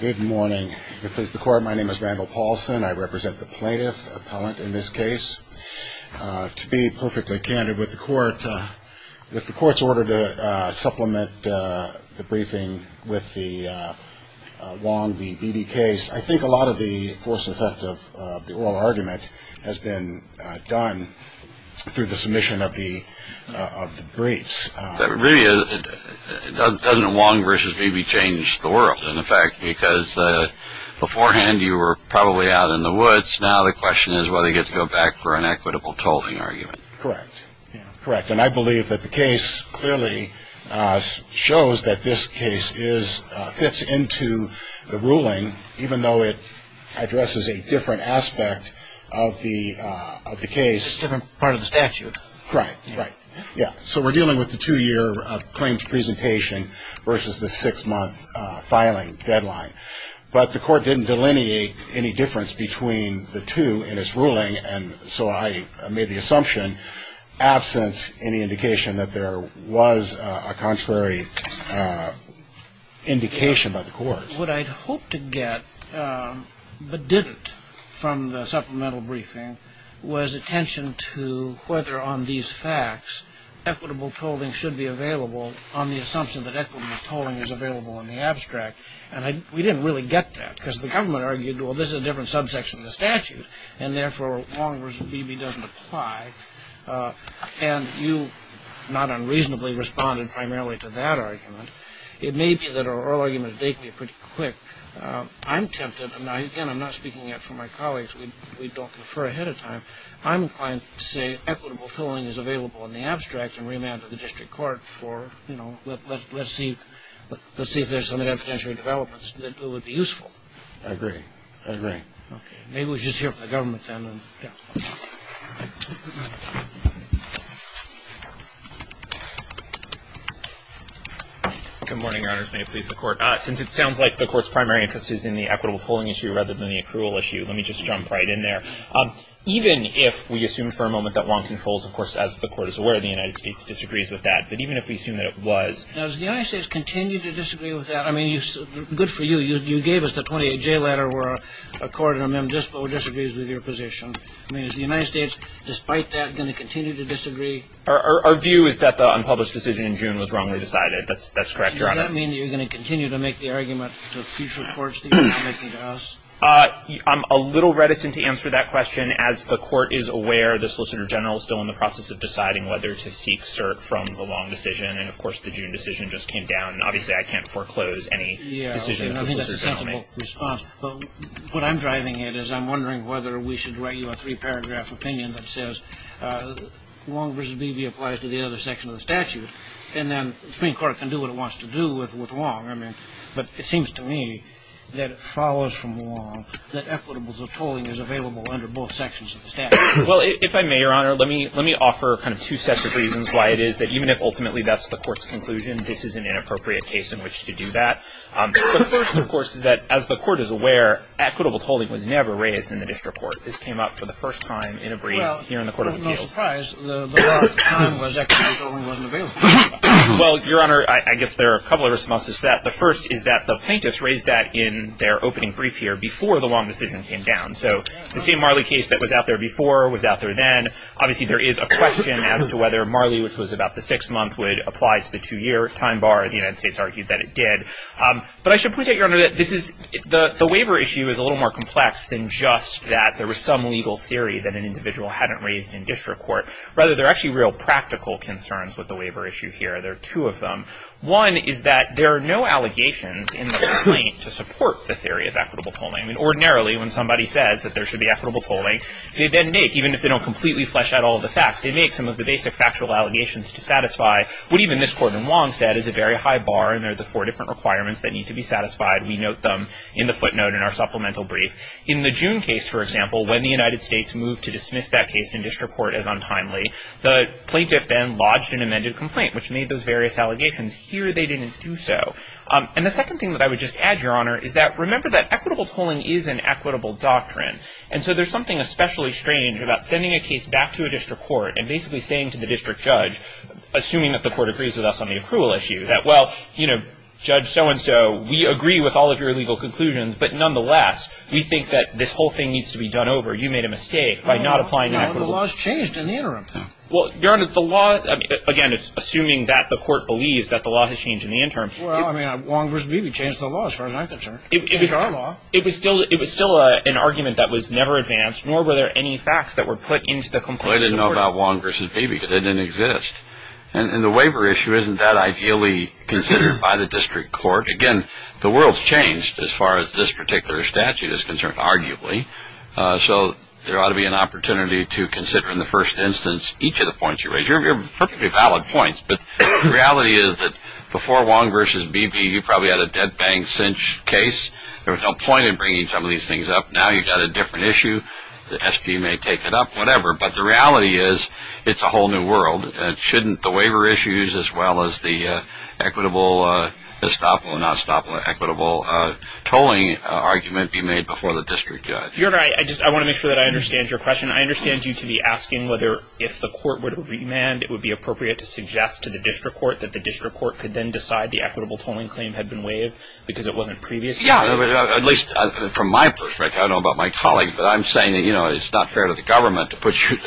Good morning. My name is Randall Paulson. I represent the plaintiff appellant in this case. To be perfectly candid with the court's order to supplement the briefing with the Wong v. Beebe case, I think a lot of the force effect of the oral argument has been done through the submission of the briefs. But really, doesn't Wong v. Beebe change the world? In fact, because beforehand you were probably out in the woods, now the question is whether you get to go back for an equitable tolling argument. Correct. Correct. And I believe that the case clearly shows that this case fits into the ruling, even though it addresses a different aspect of the case. Different part of the statute. Right. Right. Yeah. So we're dealing with the two-year claims presentation versus the six-month filing deadline. But the court didn't delineate any difference between the two in its ruling, and so I made the assumption, absent any indication that there was a contrary indication by the court. But what I'd hoped to get but didn't from the supplemental briefing was attention to whether on these facts equitable tolling should be available on the assumption that equitable tolling is available in the abstract. And we didn't really get that, because the government argued, well, this is a different subsection of the statute, and therefore, Wong v. Beebe doesn't apply. And you, not unreasonably, responded primarily to that argument. It may be that our oral argument has taken me pretty quick. I'm tempted, and again, I'm not speaking yet for my colleagues. We don't confer ahead of time. I'm inclined to say equitable tolling is available in the abstract and remand to the district court for, you know, let's see if there's some of that potential developments that would be useful. I agree. I agree. Okay. Maybe we'll just hear from the government, then. Good morning, Your Honors. May it please the Court. Since it sounds like the Court's primary interest is in the equitable tolling issue rather than the accrual issue, let me just jump right in there. Even if we assume for a moment that Wong controls, of course, as the Court is aware, the United States disagrees with that, but even if we assume that it was. Does the United States continue to disagree with that? I mean, good for you. You gave us the 28J letter where a court in amendment dispo disagrees with your position. I mean, is the United States, despite that, going to continue to disagree? Our view is that the unpublished decision in June was wrongly decided. That's correct, Your Honor. Does that mean you're going to continue to make the argument to future courts that you're not making to us? I'm a little reticent to answer that question. As the Court is aware, the Solicitor General is still in the process of deciding whether to seek cert from the Wong decision. And, of course, the June decision just came down. Obviously, I can't foreclose any decision that the Solicitor General makes. Yeah, I think that's a sensible response. But what I'm driving at is I'm wondering whether we should write you a three-paragraph opinion that says Wong v. Beebe applies to the other section of the statute. And then the Supreme Court can do what it wants to do with Wong. But it seems to me that it follows from Wong that equitables of tolling is available under both sections of the statute. Well, if I may, Your Honor, let me offer kind of two sets of reasons why it is that even if ultimately that's the Court's conclusion, this is an inappropriate case in which to do that. The first, of course, is that as the Court is aware, equitable tolling was never raised in the district court. This came up for the first time in a brief here in the Court of Appeals. Well, Your Honor, I guess there are a couple of responses to that. The first is that the plaintiffs raised that in their opening brief here before the Wong decision came down. So the same Marley case that was out there before was out there then. Obviously, there is a question as to whether Marley, which was about the six-month, would apply to the two-year time bar. The United States argued that it did. But I should point out, Your Honor, that the waiver issue is a little more complex than just that there was some legal theory that an individual hadn't raised in district court. Rather, there are actually real practical concerns with the waiver issue here. There are two of them. One is that there are no allegations in the complaint to support the theory of equitable tolling. I mean, ordinarily, when somebody says that there should be equitable tolling, they then make, even if they don't completely flesh out all of the facts, they make some of the basic factual allegations to satisfy what even this Court in Wong said is a very high bar. And there are the four different requirements that need to be satisfied. We note them in the footnote in our supplemental brief. In the June case, for example, when the United States moved to dismiss that case in district court as untimely, the plaintiff then lodged an amended complaint, which made those various allegations. Here, they didn't do so. And the second thing that I would just add, Your Honor, is that remember that equitable tolling is an equitable doctrine. And so there's something especially strange about sending a case back to a district court and basically saying to the district judge, assuming that the court agrees with us on the accrual issue, that, well, you know, Judge so-and-so, we agree with all of your legal conclusions. But nonetheless, we think that this whole thing needs to be done over. You made a mistake by not applying an equitable tolling. No, the law has changed in the interim. Well, Your Honor, the law, again, assuming that the court believes that the law has changed in the interim. Well, I mean, Wong v. Beebe changed the law, as far as I'm concerned. It was still an argument that was never advanced, nor were there any facts that were put into the complaint. Well, I didn't know about Wong v. Beebe because it didn't exist. And the waiver issue isn't that ideally considered by the district court. Again, the world's changed as far as this particular statute is concerned, arguably. So there ought to be an opportunity to consider, in the first instance, each of the points you raise. They're perfectly valid points, but the reality is that before Wong v. Beebe, you probably had a dead-bang cinch case. There was no point in bringing some of these things up. Now you've got a different issue. The S.G. may take it up, whatever. But the reality is it's a whole new world. Shouldn't the waiver issues as well as the equitable tolling argument be made before the district judge? Your Honor, I want to make sure that I understand your question. I understand you to be asking whether, if the court were to remand, it would be appropriate to suggest to the district court that the district court could then decide the equitable tolling claim had been waived because it wasn't previously? Yeah, at least from my perspective. I don't know about my colleague, but I'm saying that it's not fair to the government to put you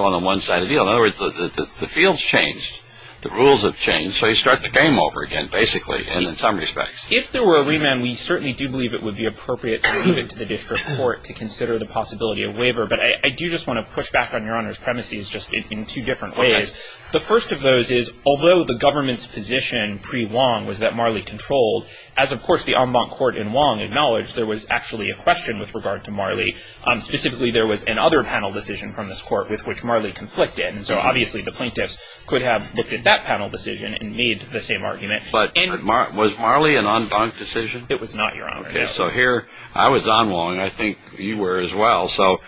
on the one side of the aisle. In other words, the field's changed. The rules have changed. So you start the game over again, basically, and in some respects. If there were a remand, we certainly do believe it would be appropriate to leave it to the district court to consider the possibility of waiver. But I do just want to push back on Your Honor's premises just in two different ways. The first of those is, although the government's position pre-Wong was that Marley controlled, as, of course, the en banc court in Wong acknowledged, there was actually a question with regard to Marley. Specifically, there was another panel decision from this court with which Marley conflicted. And so, obviously, the plaintiffs could have looked at that panel decision and made the same argument. But was Marley an en banc decision? It was not, Your Honor. Okay. So here, I was on Wong. I think you were as well. So,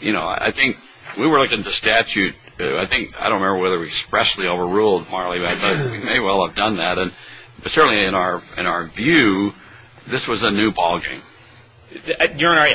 you know, I think we were looking at the statute. I think, I don't remember whether we expressly overruled Marley, but we may well have done that. But certainly, in our view, this was a new ball game. Your Honor,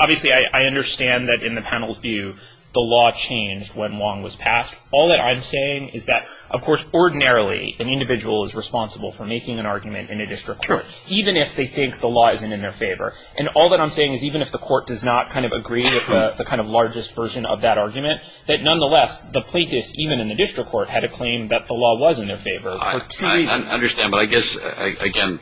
obviously, I understand that in the panel's view, the law changed when Wong was passed. All that I'm saying is that, of course, ordinarily, an individual is responsible for making an argument in a district court. Sure. Even if they think the law isn't in their favor. And all that I'm saying is even if the court does not kind of agree with the kind of largest version of that argument, that nonetheless, the plaintiffs, even in the district court, had a claim that the law was in their favor for two reasons. I understand. But I guess, again,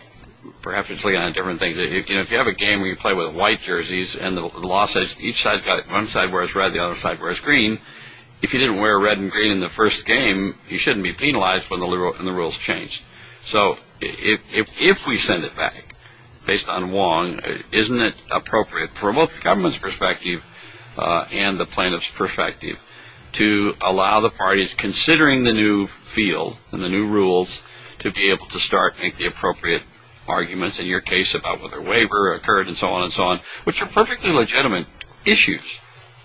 perhaps it's looking at different things. You know, if you have a game where you play with white jerseys and the law says each side, one side wears red, the other side wears green, if you didn't wear red and green in the first game, you shouldn't be penalized when the rules change. So if we send it back based on Wong, isn't it appropriate from both the government's perspective and the plaintiff's perspective to allow the parties considering the new field and the new rules to be able to start to make the appropriate arguments in your case about whether a waiver occurred and so on and so on, which are perfectly legitimate issues?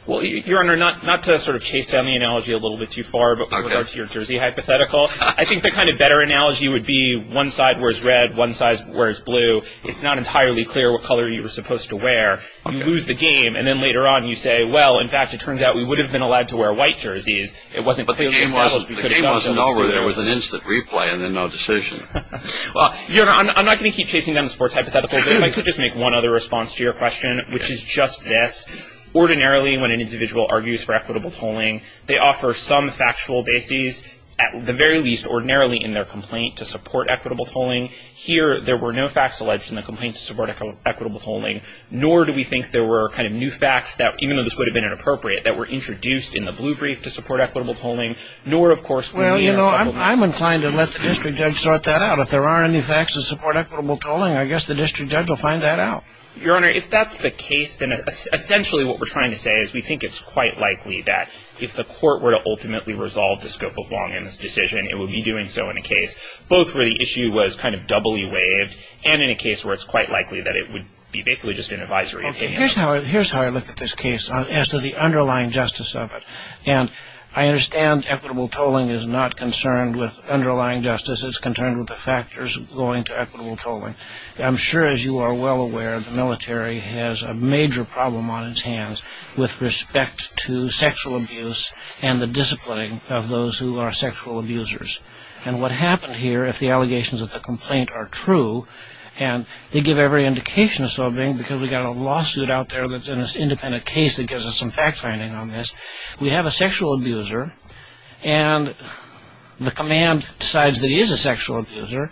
Well, Your Honor, not to sort of chase down the analogy a little bit too far, but with regard to your jersey hypothetical, I think the kind of better analogy would be one side wears red, one side wears blue. It's not entirely clear what color you were supposed to wear. You lose the game, and then later on you say, well, in fact, it turns out we would have been allowed to wear white jerseys. The game wasn't over. There was an instant replay and then no decision. Your Honor, I'm not going to keep chasing down the sports hypothetical, but if I could just make one other response to your question, which is just this. Ordinarily, when an individual argues for equitable tolling, they offer some factual bases, at the very least ordinarily in their complaint to support equitable tolling. Here, there were no facts alleged in the complaint to support equitable tolling, nor do we think there were kind of new facts that, even though this would have been inappropriate, that were introduced in the blue brief to support equitable tolling, nor, of course, Well, you know, I'm inclined to let the district judge sort that out. If there are any facts that support equitable tolling, I guess the district judge will find that out. Your Honor, if that's the case, then essentially what we're trying to say is we think it's quite likely that if the court were to ultimately resolve the scope of Longin's decision, it would be doing so in a case both where the issue was kind of doubly waived and in a case where it's quite likely that it would be basically just an advisory opinion. Here's how I look at this case as to the underlying justice of it. And I understand equitable tolling is not concerned with underlying justice, it's concerned with the factors going to equitable tolling. I'm sure, as you are well aware, the military has a major problem on its hands with respect to sexual abuse and the disciplining of those who are sexual abusers. And what happened here, if the allegations of the complaint are true, and they give every indication of so being because we've got a lawsuit out there that's an independent case that gives us some fact-finding on this, we have a sexual abuser and the command decides that he is a sexual abuser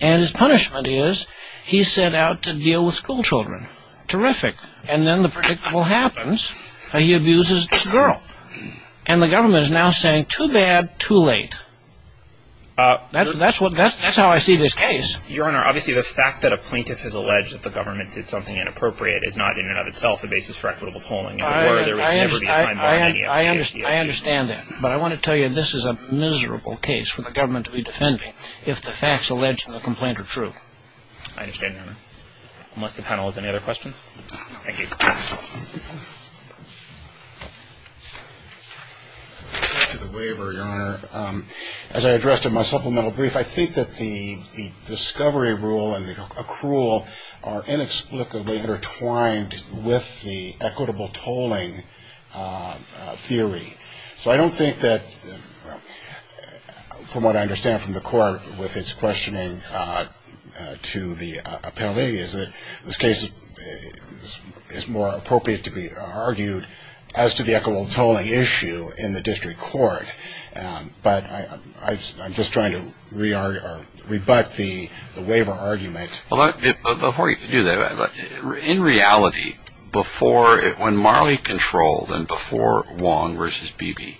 and his punishment is he's sent out to deal with school children. Terrific. And then the predictable happens. He abuses this girl. And the government is now saying, too bad, too late. That's how I see this case. Your Honor, obviously the fact that a plaintiff has alleged that the government did something inappropriate is not in and of itself a basis for equitable tolling. I understand that. But I want to tell you this is a miserable case for the government to be defending if the facts alleged in the complaint are true. I understand, Your Honor. Unless the panel has any other questions? Thank you. To the waiver, Your Honor, as I addressed in my supplemental brief, I think that the discovery rule and the accrual are inexplicably intertwined with the equitable tolling theory. So I don't think that, from what I understand from the court with its questioning to the appellee, is that this case is more appropriate to be argued as to the equitable tolling issue in the district court. But I'm just trying to rebut the waiver argument. Before you do that, in reality, when Marley controlled and before Wong v. Beebe,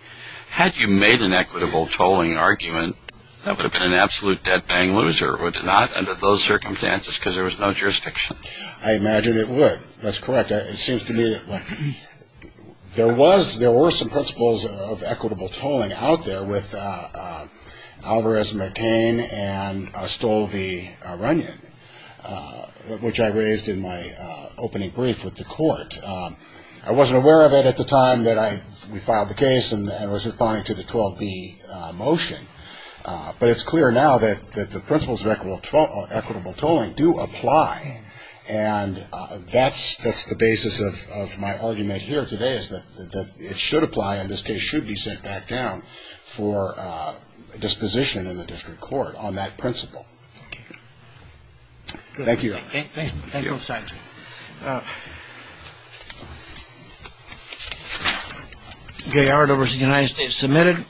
had you made an equitable tolling argument, that would have been an absolute dead-bang loser, would it not, under those circumstances, because there was no jurisdiction? I imagine it would. That's correct. It seems to me that there were some principles of equitable tolling out there with Alvarez, McCain, and Stoll v. Runyon, which I raised in my opening brief with the court. I wasn't aware of it at the time that we filed the case and was responding to the 12B motion, but it's clear now that the principles of equitable tolling do apply, and that's the basis of my argument here today is that it should apply and this case should be sent back down for disposition in the district court on that principle. Thank you. Thank you. Thank you. Thank you both sides. Gay-Ardover v. The United States, submitted.